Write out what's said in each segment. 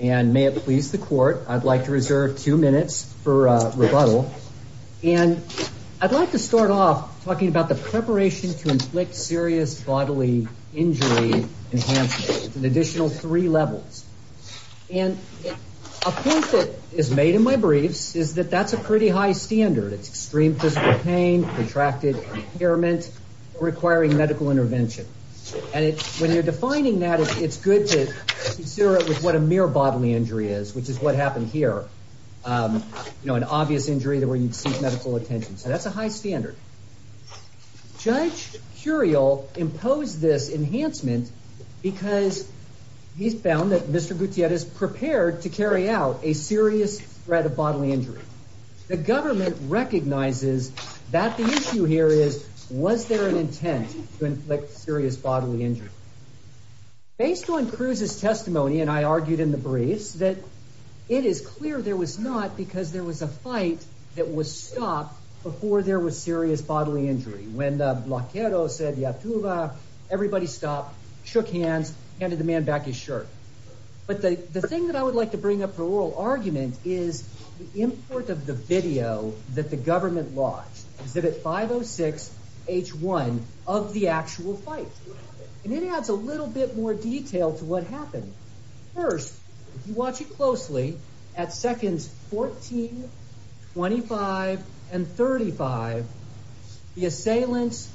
and may it please the court I'd like to reserve two minutes for rebuttal and I'd like to start off talking about the preparation to inflict serious bodily injury enhancement an additional three levels and a point that is made in my briefs is that that's a pretty high standard it's extreme physical pain contracted impairment requiring medical intervention and it's when you're defining that it's good to consider it with what a mere bodily injury is which is what happened here you know an obvious injury that where you'd seek medical attention so that's a high standard. Judge Curiel imposed this enhancement because he's found that Mr. bodily injury. The government recognizes that the issue here is was there an intent to inflict serious bodily injury. Based on Cruz's testimony and I argued in the briefs that it is clear there was not because there was a fight that was stopped before there was serious bodily injury. When the bloquero said everybody stopped shook hands handed the man back his shirt but the thing that I would like to bring up for oral argument is the import of the video that the government launched exhibit 506 h1 of the actual fight and it adds a little bit more detail to what happened first you watch it closely at seconds 14 25 and 35 the assailants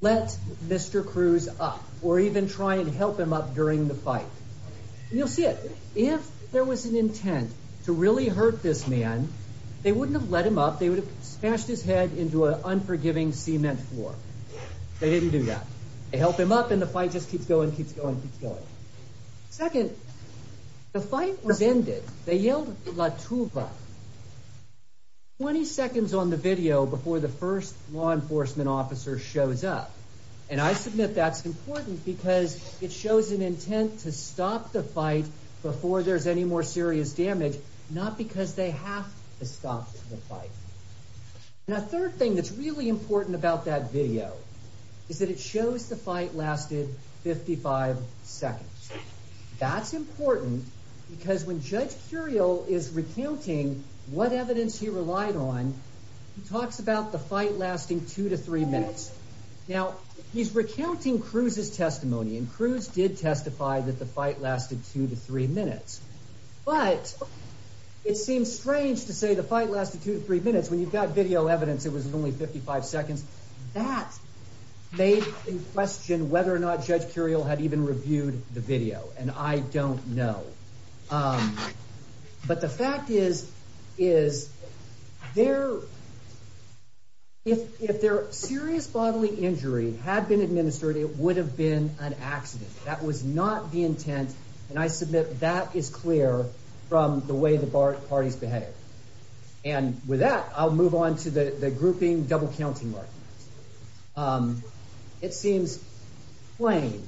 let Mr. Cruz up or even trying to help him up during the fight you'll see it if there was an intent to really hurt this man they wouldn't have let him up they would have smashed his head into an unforgiving cement floor they didn't do that they help him up and the fight just keeps going keeps going keeps going second the fight was ended they yelled 20 seconds on the video before the first law enforcement officer shows up and I submit that's important because it shows an intent to stop the fight before there's any more serious damage not because they have to stop the fight now third thing that's really important about that video is that it shows the fight lasted 55 seconds that's important because when Judge Curiel is recounting what evidence he relied on he talks about the fight lasting two to three minutes now he's recounting Cruz's testimony and Cruz did testify that the fight lasted two to three minutes but it seems strange to say the fight lasted two to three minutes when you've got video evidence it was only 55 seconds that made in question whether or not Judge Curiel had even reviewed the video and I don't know um but the fact is is there if if their serious bodily injury had been administered it would have been an accident that was not the intent and I submit that is clear from the way the parties behaved and with that I'll move on to the the grouping double counting markings um it seems plain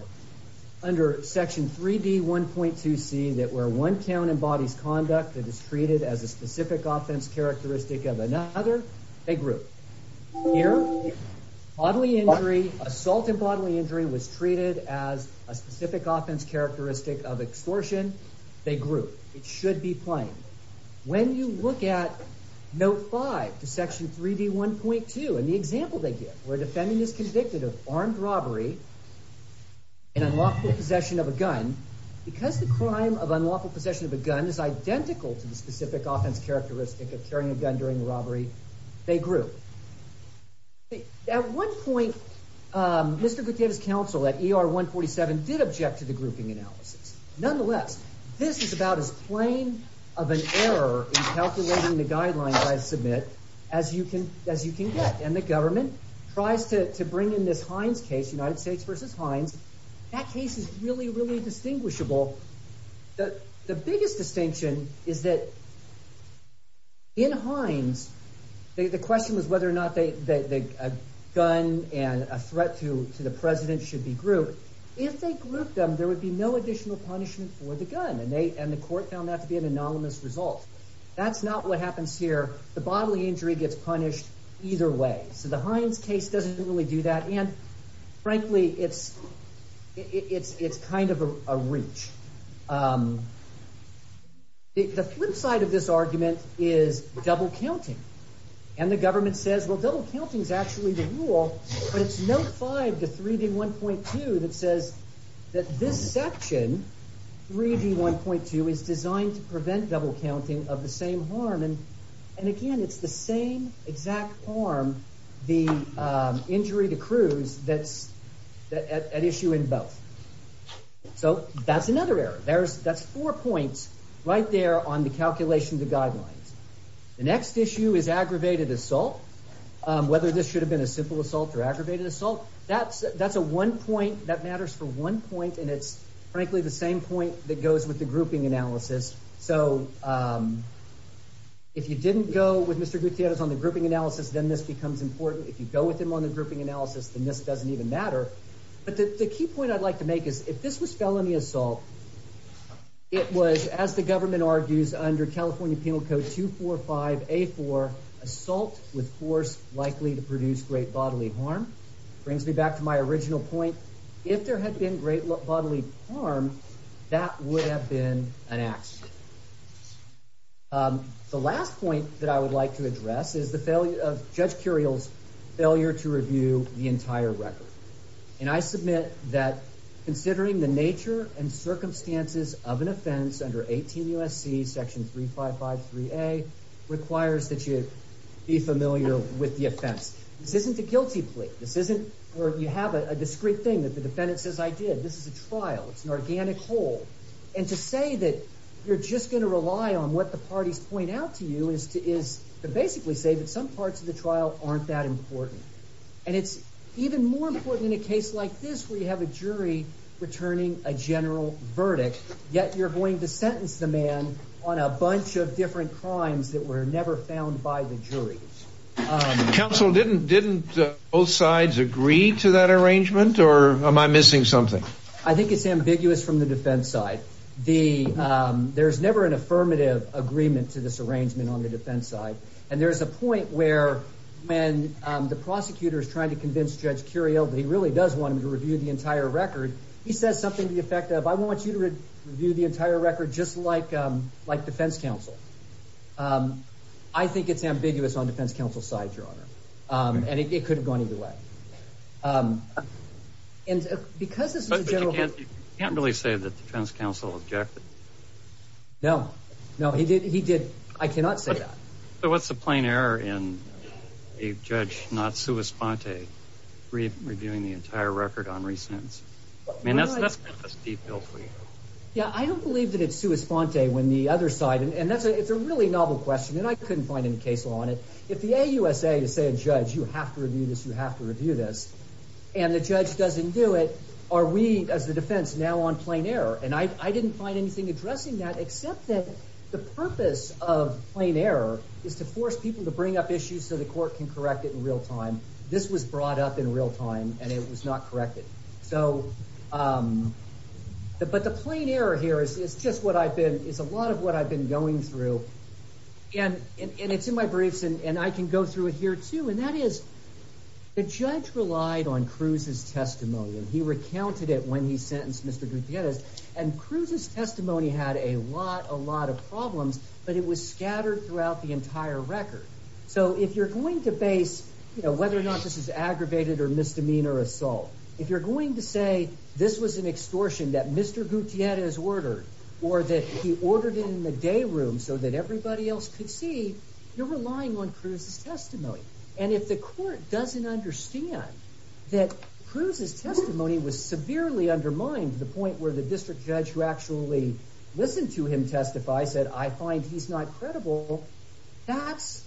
under section 3d 1.2c that where one count embodies conduct that is treated as a specific offense characteristic of another they group here bodily injury assault and bodily injury was treated as a specific offense characteristic of extortion they group it should be playing when you look at note 5 to section 3d 1.2 and the example they give where defending is convicted of armed robbery and unlawful possession of a gun because the crime of carrying a gun during the robbery they group at one point um Mr. Gutierrez counsel at er 147 did object to the grouping analysis nonetheless this is about as plain of an error in calculating the guidelines I submit as you can as you can get and the government tries to bring in this Heinz case United States versus Heinz that case is really really distinguishable the the biggest distinction is that in Heinz the question was whether or not they they a gun and a threat to to the president should be grouped if they group them there would be no additional punishment for the gun and they and the court found that to be an anonymous result that's not what happens here the bodily injury gets punished either way so the Heinz case doesn't really do that and frankly it's it's it's kind of a reach um the flip side of this argument is double counting and the government says well double counting is actually the rule but it's note 5 to 3d 1.2 that says that this section 3d 1.2 is designed to prevent double counting of the same harm and again it's the same exact harm the um injury the cruise that's that at issue in both so that's another error there's that's four points right there on the calculation of the guidelines the next issue is aggravated assault whether this should have been a simple assault or aggravated assault that's that's a one point that matters for one point and it's frankly the same point that goes with the grouping analysis so um if you didn't go with mr gutierrez on the grouping analysis then this becomes important if you go with him on the grouping analysis then this doesn't even matter but the key point i'd like to make is if this was felony assault it was as the government argues under california penal code 245 a4 assault with force likely to produce great bodily harm brings me back to my original point if there had been great bodily harm that would have been an accident um the last point that i would like to address is the failure of judge curials failure to review the entire record and i submit that considering the nature and circumstances of an offense under 18 usc section 355 3a requires that you be familiar with the offense this isn't a or you have a discrete thing that the defendant says i did this is a trial it's an organic hole and to say that you're just going to rely on what the parties point out to you is to is to basically say that some parts of the trial aren't that important and it's even more important in a case like this where you have a jury returning a general verdict yet you're going to sentence the man on a bunch of different crimes that were never found by the jury council didn't didn't both sides agree to that arrangement or am i missing something i think it's ambiguous from the defense side the um there's never an affirmative agreement to this arrangement on the defense side and there's a point where when um the prosecutor is trying to convince judge curio that he really does want him to review the entire record he says something to the effect of i want you to review the entire record just like um like defense counsel um i think it's ambiguous on defense counsel's side your honor um and it could have gone either way um and because this is you can't really say that the defense counsel objected no no he did he did i cannot say that so what's the plain error in a judge not sua sponte reviewing the entire record on resentence and that's that's a steep hill for you yeah i don't believe that it's sua sponte when the other side and that's a it's a really novel question and i couldn't find any case law on it if the ausa to say a judge you have to review this you have to review this and the judge doesn't do it are we as the defense now on plain error and i i didn't find anything addressing that except that the purpose of plain error is to force people to bring up issues so the court can correct it in real time this was brought up in real time and it was not corrected so um but the plain error here is just what i've been is a lot of what i've been going through and it's in my briefs and i can go through it here too and that is the judge relied on cruz's testimony and he recounted it when he sentenced mr gutierrez and cruz's testimony had a lot a lot of problems but it was scattered throughout the entire record so if you're going to base you know whether or not this is aggravated or misdemeanor assault if you're going to say this was an extortion that mr gutierrez ordered or that he ordered it in the day room so that everybody else could see you're relying on cruz's testimony and if the court doesn't understand that cruz's testimony was severely undermined to the point where the district judge who actually listened to him testify said i find he's not credible that's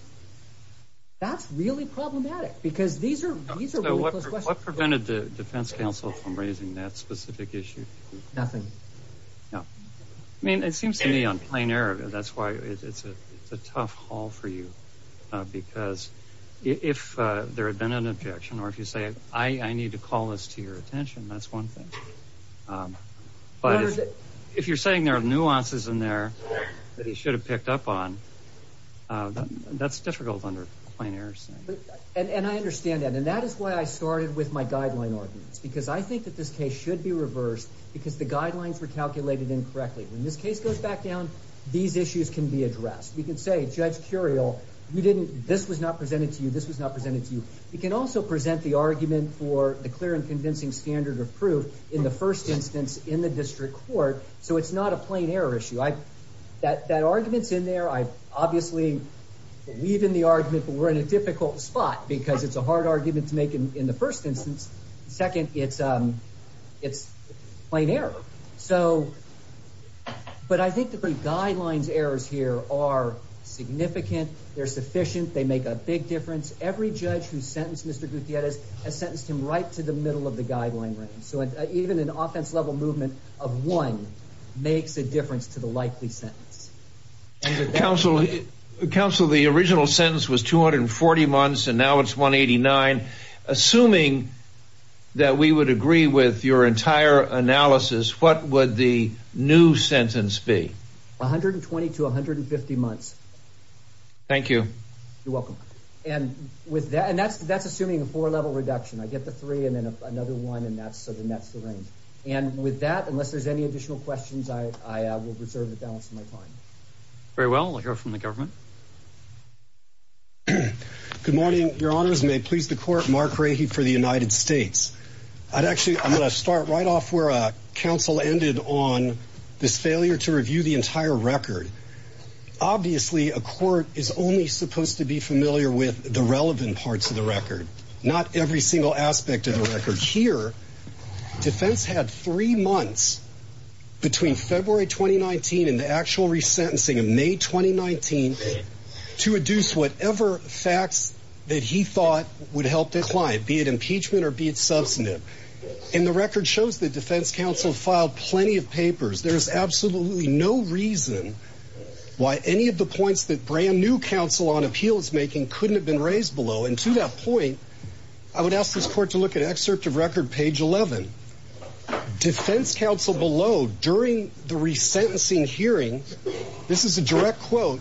that's really problematic because these are these are what prevented the defense council from raising that specific issue nothing yeah i mean it seems to me on plain error that's why it's a it's a tough haul for you uh because if uh there had been an objection or if you say i i need to call this to your attention that's one thing um but if you're saying there are nuances in that he should have picked up on uh that's difficult under plain errors and i understand that and that is why i started with my guideline arguments because i think that this case should be reversed because the guidelines were calculated incorrectly when this case goes back down these issues can be addressed we can say judge curial you didn't this was not presented to you this was not presented to you you can also present the argument for the clear and convincing standard of proof in the first instance in the district court so it's not a plain error issue i that that argument's in there i obviously believe in the argument but we're in a difficult spot because it's a hard argument to make in the first instance second it's um it's plain error so but i think the guidelines errors here are significant they're sufficient they make a big difference every judge who sentenced mr gutierrez has sentenced him right to the middle of the guideline range so even an offense level movement of one makes a difference to the likely sentence council council the original sentence was 240 months and now it's 189 assuming that we would agree with your entire analysis what would the new sentence be 120 to 150 months thank you you're welcome and with that and that's that's assuming a four level reduction i get the three and then another one and that's so then that's the range and with that unless there's any additional questions i i will reserve the balance of my time very well i'll hear from the government good morning your honors may please the court mark ray for the united states i'd actually i'm going to start right off where a council ended on this failure to review the entire record obviously a court is only supposed to be familiar with the relevant parts of the record not every aspect of the record here defense had three months between february 2019 and the actual resentencing in may 2019 to reduce whatever facts that he thought would help this client be it impeachment or be it substantive and the record shows that defense counsel filed plenty of papers there's absolutely no reason why any of the points that brand new counsel on appeals making couldn't have been raised below and to that point i would ask this court to look at excerpt of record page 11 defense counsel below during the resentencing hearing this is a direct quote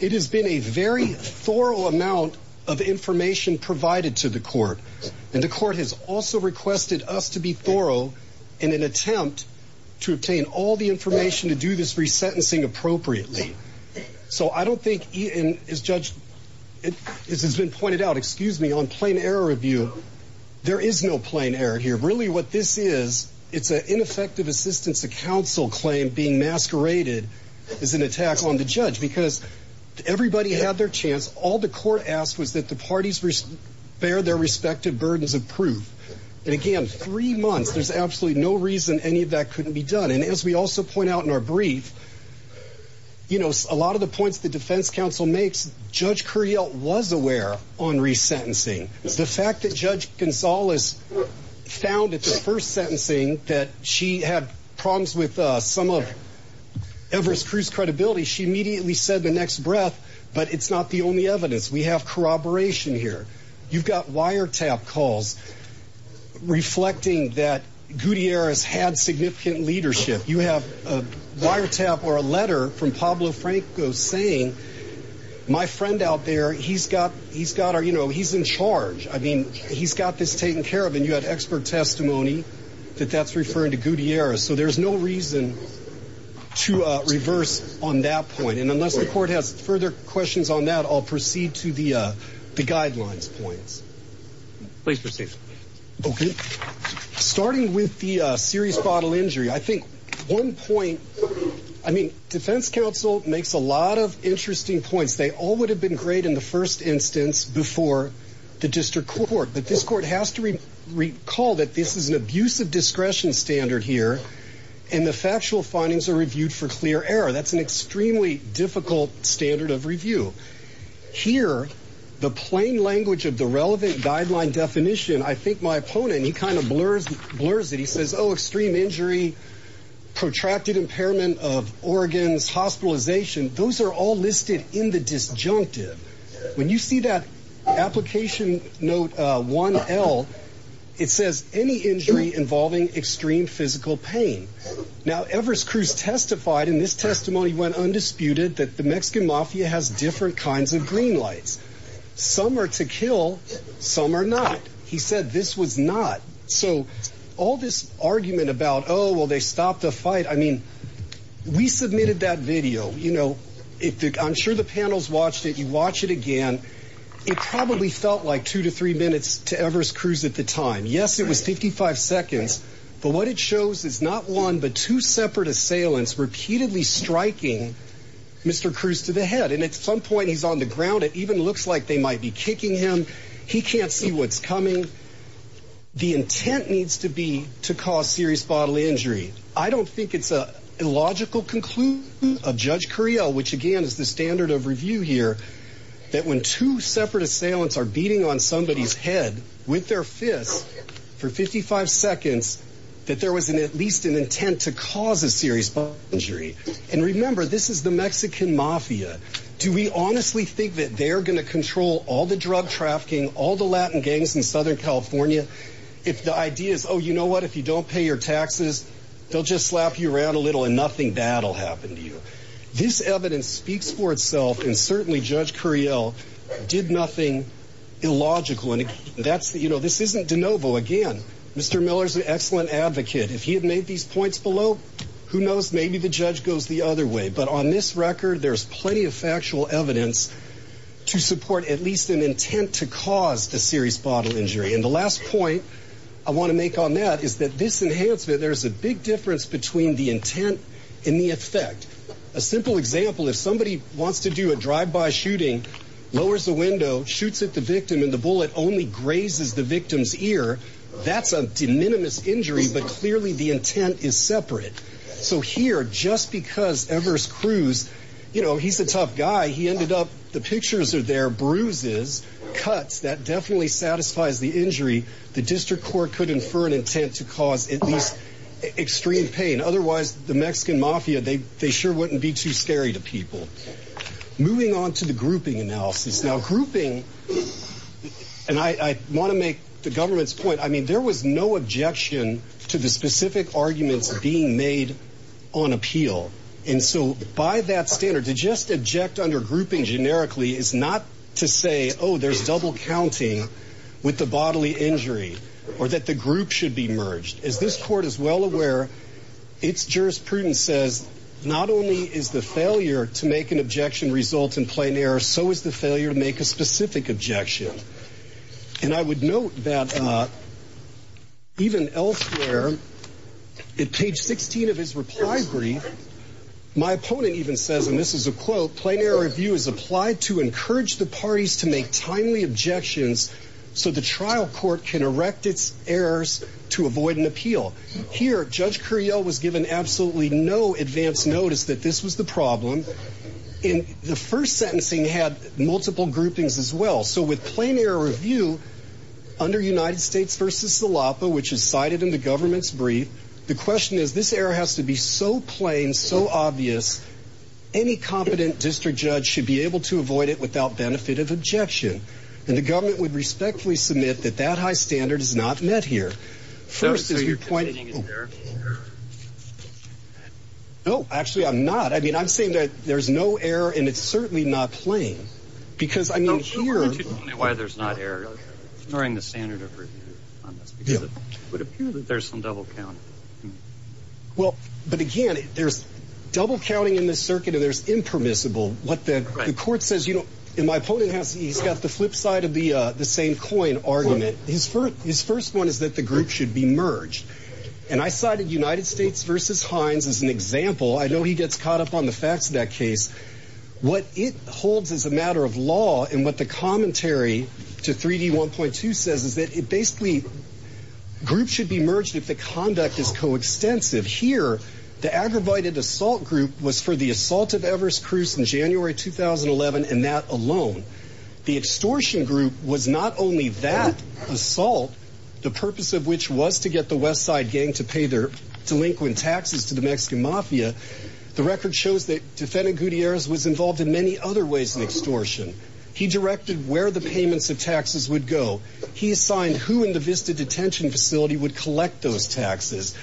it has been a very thorough amount of information provided to the court and the court has also requested us to be thorough in an attempt to obtain all the information to do this resentencing appropriately so i don't think he and his judge it has been pointed out excuse me on plain error review there is no plain error here really what this is it's an ineffective assistance to counsel claim being masqueraded as an attack on the judge because everybody had their chance all the court asked was that the parties bear their respective burdens of proof and again three months there's absolutely no reason any of that couldn't be done and as we also point out in our brief you know a lot of the points the defense counsel makes judge curiel was aware on resentencing the fact that judge gonzalez found at the first sentencing that she had problems with uh some of everest cruise credibility she immediately said the next breath but it's not the only evidence we have corroboration here you've got wiretap calls reflecting that gutierrez had significant leadership you have a wiretap or a letter from pablo franco saying my friend out there he's got he's got our you know he's in charge i mean he's got this taken care of and you had expert testimony that that's referring to gutierrez so there's no reason to uh reverse on that point and unless the court has further questions on that i'll proceed to the uh the guidelines points please okay starting with the uh serious bottle injury i think one point i mean defense council makes a lot of interesting points they all would have been great in the first instance before the district court but this court has to recall that this is an abusive discretion standard here and the factual findings are reviewed for clear error that's an extremely difficult standard of review here the plain language of the relevant guideline definition i think my opponent he kind of blurs blurs that he says oh extreme injury protracted impairment of organs hospitalization those are all listed in the disjunctive when you see that application note uh 1l it says any injury involving extreme physical pain now everest cruise testified in this testimony went undisputed that the mexican mafia has different kinds of green lights some are to kill some are not he said this was not so all this argument about oh well they stopped the fight i mean we submitted that video you know if i'm sure the panels watched it you watch it again it probably felt like two to three minutes to everest cruise at the time yes it was 55 seconds but what it shows is not one but two and at some point he's on the ground it even looks like they might be kicking him he can't see what's coming the intent needs to be to cause serious bodily injury i don't think it's a illogical conclusion of judge correa which again is the standard of review here that when two separate assailants are beating on somebody's head with their fists for 55 seconds that there was an intent to cause a serious injury and remember this is the mexican mafia do we honestly think that they're going to control all the drug trafficking all the latin gangs in southern california if the idea is oh you know what if you don't pay your taxes they'll just slap you around a little and nothing bad will happen to you this evidence speaks for itself and certainly judge curiel did nothing illogical and that's you know this isn't de novo again mr miller's an points below who knows maybe the judge goes the other way but on this record there's plenty of factual evidence to support at least an intent to cause a serious bodily injury and the last point i want to make on that is that this enhancement there's a big difference between the intent and the effect a simple example if somebody wants to do a drive-by shooting lowers the window shoots at the victim and the bullet only grazes the victim's ear that's a de minimis injury but clearly the intent is separate so here just because evers cruise you know he's a tough guy he ended up the pictures are there bruises cuts that definitely satisfies the injury the district court could infer an intent to cause at least extreme pain otherwise the mexican mafia they they sure wouldn't be too scary to people moving on to the grouping analysis now grouping is and i i want to make the government's point i mean there was no objection to the specific arguments being made on appeal and so by that standard to just object under grouping generically is not to say oh there's double counting with the bodily injury or that the group should be merged as this court is well aware its jurisprudence says not only is the failure to make an objection result in plain error so is the failure to make a specific objection and i would note that uh even elsewhere at page 16 of his reply brief my opponent even says and this is a quote plain error review is applied to encourage the parties to make timely objections so the trial court can erect its errors to avoid an appeal here judge curiel was given absolutely no advanced notice that this was the problem in the first sentencing had multiple groupings as well so with plain error review under united states versus salapa which is cited in the government's brief the question is this error has to be so plain so obvious any competent district judge should be able to avoid it without benefit of objection and the government would respectfully submit that that high standard is not met here first is your point no actually i'm not i mean i'm saying that there's no error and it's certainly not plain because i mean here why there's not error during the standard of review on this because it would appear that there's some double count well but again there's double counting in this circuit and there's impermissible what the court says you know and my opponent has he's got the flip side of the same coin argument his first his first one is that the group should be merged and i cited united states versus heinz as an example i know he gets caught up on the facts of that case what it holds as a matter of law and what the commentary to 3d 1.2 says is that it basically groups should be merged if the conduct is co-extensive here the aggravated assault group was for the assault of everest cruz in january 2011 and that alone the extortion group was not only that assault the purpose of which was to get the west side gang to pay their delinquent taxes to the mexican mafia the record shows that defendant gutierrez was involved in many other ways in extortion he directed where the payments of taxes would go he assigned who in the vista detention facility would collect those taxes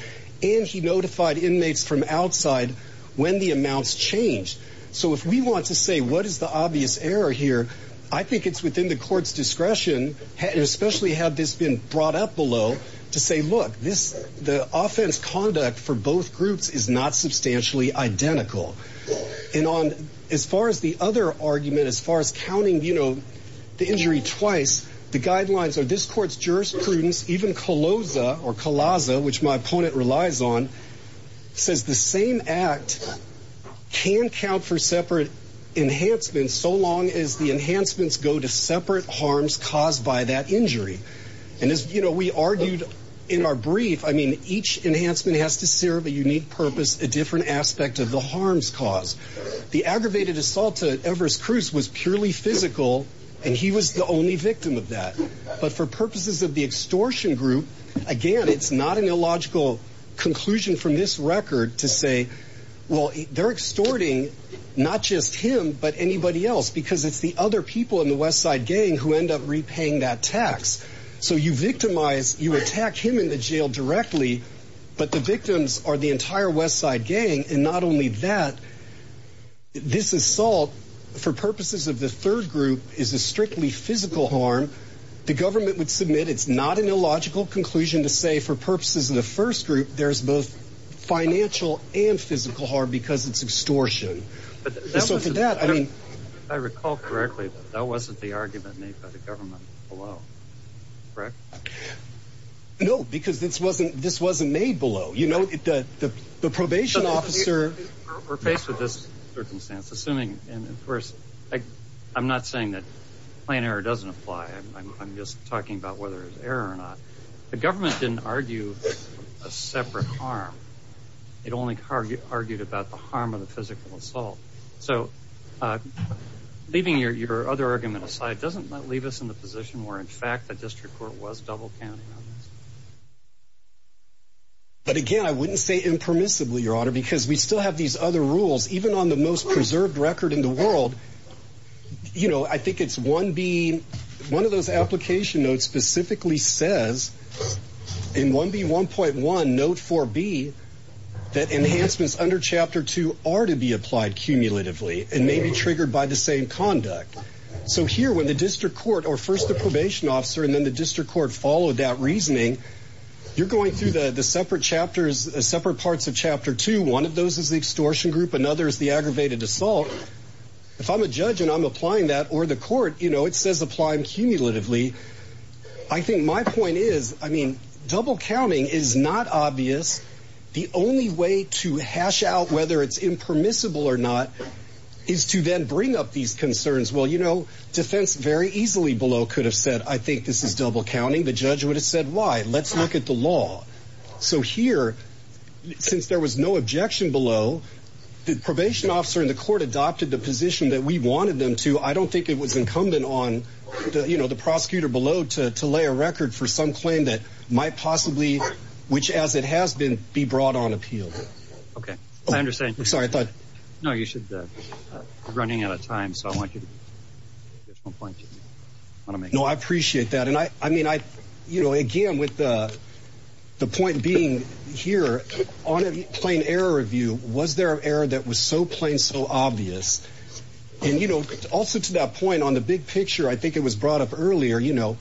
and he notified inmates from outside when the amounts changed so if we want to say what is the obvious error here i think it's within the court's discretion especially had this been brought up below to say look this the offense conduct for both groups is not substantially identical and on as far as the other argument as far as counting the injury twice the guidelines are this court's jurisprudence even colosa or calaza which my opponent relies on says the same act can count for separate enhancements so long as the enhancements go to separate harms caused by that injury and as you know we argued in our brief i mean each enhancement has to serve a unique purpose a different aspect of the harms cause the aggravated assault to everest cruz was purely physical and he was the only victim of that but for purposes of the extortion group again it's not an illogical conclusion from this record to say well they're extorting not just him but anybody else because it's the other people in the west side gang who end up repaying that tax so you victimize you attack him in the jail directly but the victims are the entire west side gang and not only that this assault for purposes of the third group is a strictly physical harm the government would submit it's not an illogical conclusion to say for purposes of the first group there's both financial and physical harm because it's extortion so for that i mean i recall correctly that wasn't the argument made by the government below correct okay no because this wasn't this wasn't made below you know the the probation officer we're faced with this circumstance assuming and of course i i'm not saying that plan error doesn't apply i'm just talking about whether it's error or not the government didn't argue a separate harm it only argued argued about the harm of the physical assault so uh leaving your your other argument aside doesn't that leave us in the position where in fact the district court was double counting on this but again i wouldn't say impermissibly your honor because we still have these other rules even on the most preserved record in the world you know i think it's one b one of those application notes specifically says in 1b 1.1 note 4b that enhancements under chapter two are to be applied cumulatively and may be triggered by the same conduct so here when the district court or first the probation officer and then the district court followed that reasoning you're going through the the separate chapters separate parts of chapter two one of those is the extortion group another is the aggravated assault if i'm a judge and i'm applying that or the court you know it says apply cumulatively i think my point is i mean double counting is not obvious the only way to hash out whether it's impermissible or not is to then bring up these concerns well you know defense very easily below could have said i think this is double counting the judge would have said why let's look at the law so here since there was no objection below the probation officer in the court adopted the position that we wanted them to i don't think it was incumbent on the you know the prosecutor below to to lay a record for some that might possibly which as it has been be brought on appeal okay i understand sorry i thought no you should uh you're running out of time so i want you to get one point you want to make no i appreciate that and i i mean i you know again with the the point being here on a plain error review was there an error that was so plain so obvious and you know also to that point on the big picture i think it was brought up earlier you know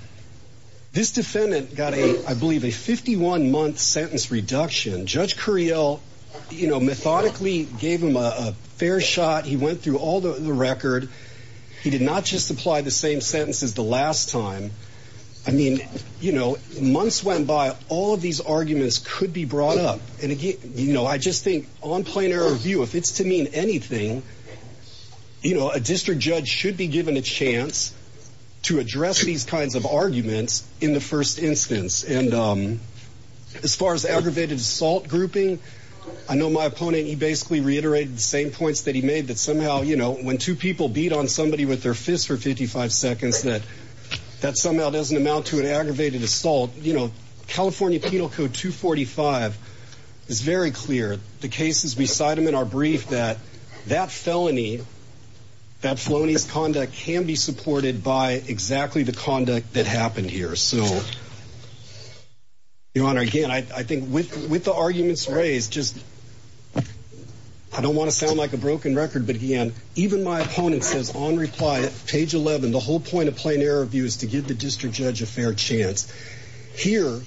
this defendant got a i believe a 51 month sentence reduction judge curiel you know methodically gave him a fair shot he went through all the record he did not just apply the same sentence as the last time i mean you know months went by all of these arguments could be brought up and again you know i just think on plain error view if it's to anything you know a district judge should be given a chance to address these kinds of arguments in the first instance and um as far as aggravated assault grouping i know my opponent he basically reiterated the same points that he made that somehow you know when two people beat on somebody with their fists for 55 seconds that that somehow doesn't amount to an aggravated assault you know penal code 245 is very clear the cases we cite them in our brief that that felony that phlonies conduct can be supported by exactly the conduct that happened here so your honor again i i think with with the arguments raised just i don't want to sound like a broken record but again even my opponent says on reply page 11 the whole point of plain error view is to give the district judge a fair chance here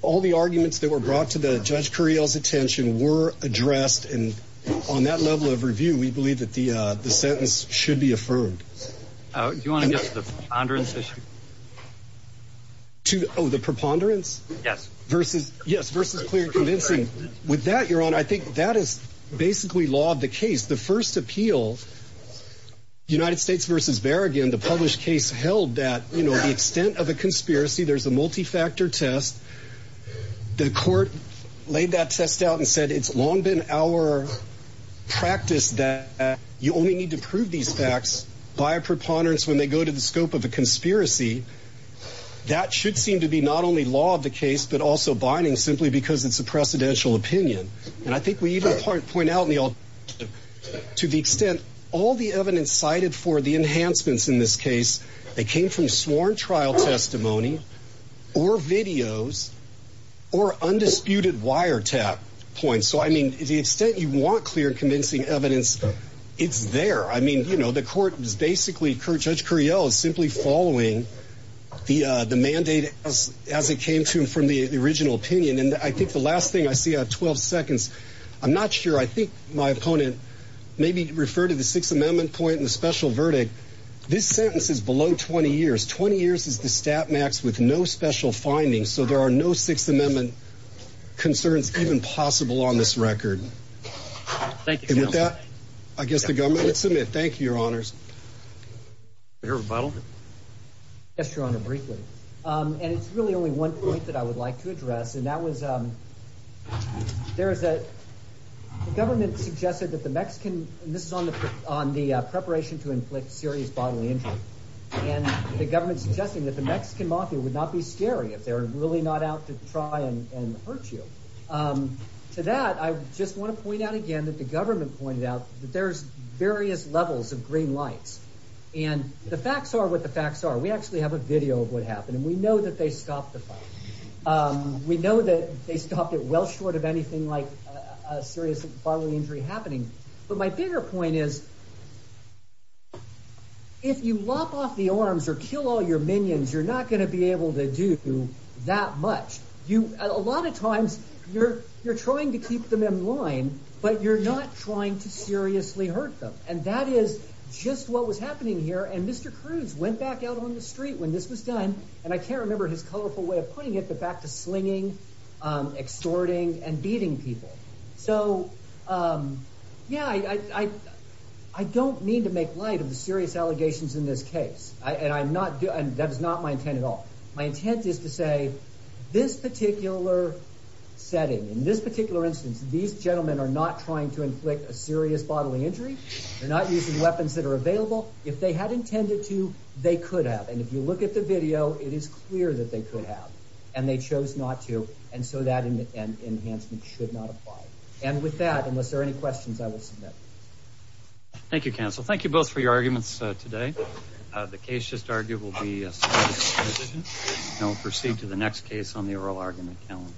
all the arguments that were brought to the judge curiel's attention were addressed and on that level of review we believe that the uh the sentence should be affirmed uh do you want to get to the ponderance issue to oh the preponderance yes versus yes versus clear convincing with that your honor i think that is basically law of the case the first appeal united states versus barrigan the published case held that you know the extent of a conspiracy there's a multi-factor test the court laid that test out and said it's long been our practice that you only need to prove these facts by a preponderance when they go to the scope of a conspiracy that should seem to be not only law of the case but also binding simply because it's a precedential opinion and i think we even point out in the all to the extent all the evidence cited for the enhancements in this case came from sworn trial testimony or videos or undisputed wiretap points so i mean the extent you want clear convincing evidence it's there i mean you know the court was basically judge curiel is simply following the uh the mandate as it came to him from the original opinion and i think the last thing i see at 12 seconds i'm not sure i think my opponent maybe refer to the sixth amendment point in the special verdict this sentence is below 20 years 20 years is the stat max with no special findings so there are no sixth amendment concerns even possible on this record thank you with that i guess the government would submit thank you your honors your rebuttal yes your honor briefly um and it's really only one point that i would like to address and that was um there's a government suggested that the mexican this is on the on the preparation to inflict serious bodily injury and the government's suggesting that the mexican mafia would not be scary if they're really not out to try and and hurt you um to that i just want to point out again that the government pointed out that there's various levels of green lights and the facts are what the facts are we actually have a video of what happened and we know that they stopped the of anything like a serious bodily injury happening but my bigger point is if you lop off the arms or kill all your minions you're not going to be able to do that much you a lot of times you're you're trying to keep them in line but you're not trying to seriously hurt them and that is just what was happening here and mr cruz went back out on the street when this was done and i can't remember his colorful way of putting it but back to slinging extorting and beating people so um yeah i i i don't need to make light of the serious allegations in this case i and i'm not doing that is not my intent at all my intent is to say this particular setting in this particular instance these gentlemen are not trying to inflict a serious bodily injury they're not using weapons that are available if they had intended to they could have and if you look at the video it is clear that they could have and they chose not to and so that enhancement should not apply and with that unless there are any questions i will submit thank you counsel thank you both for your arguments today the case just argued will be no proceed to the next case on the oral argument calendar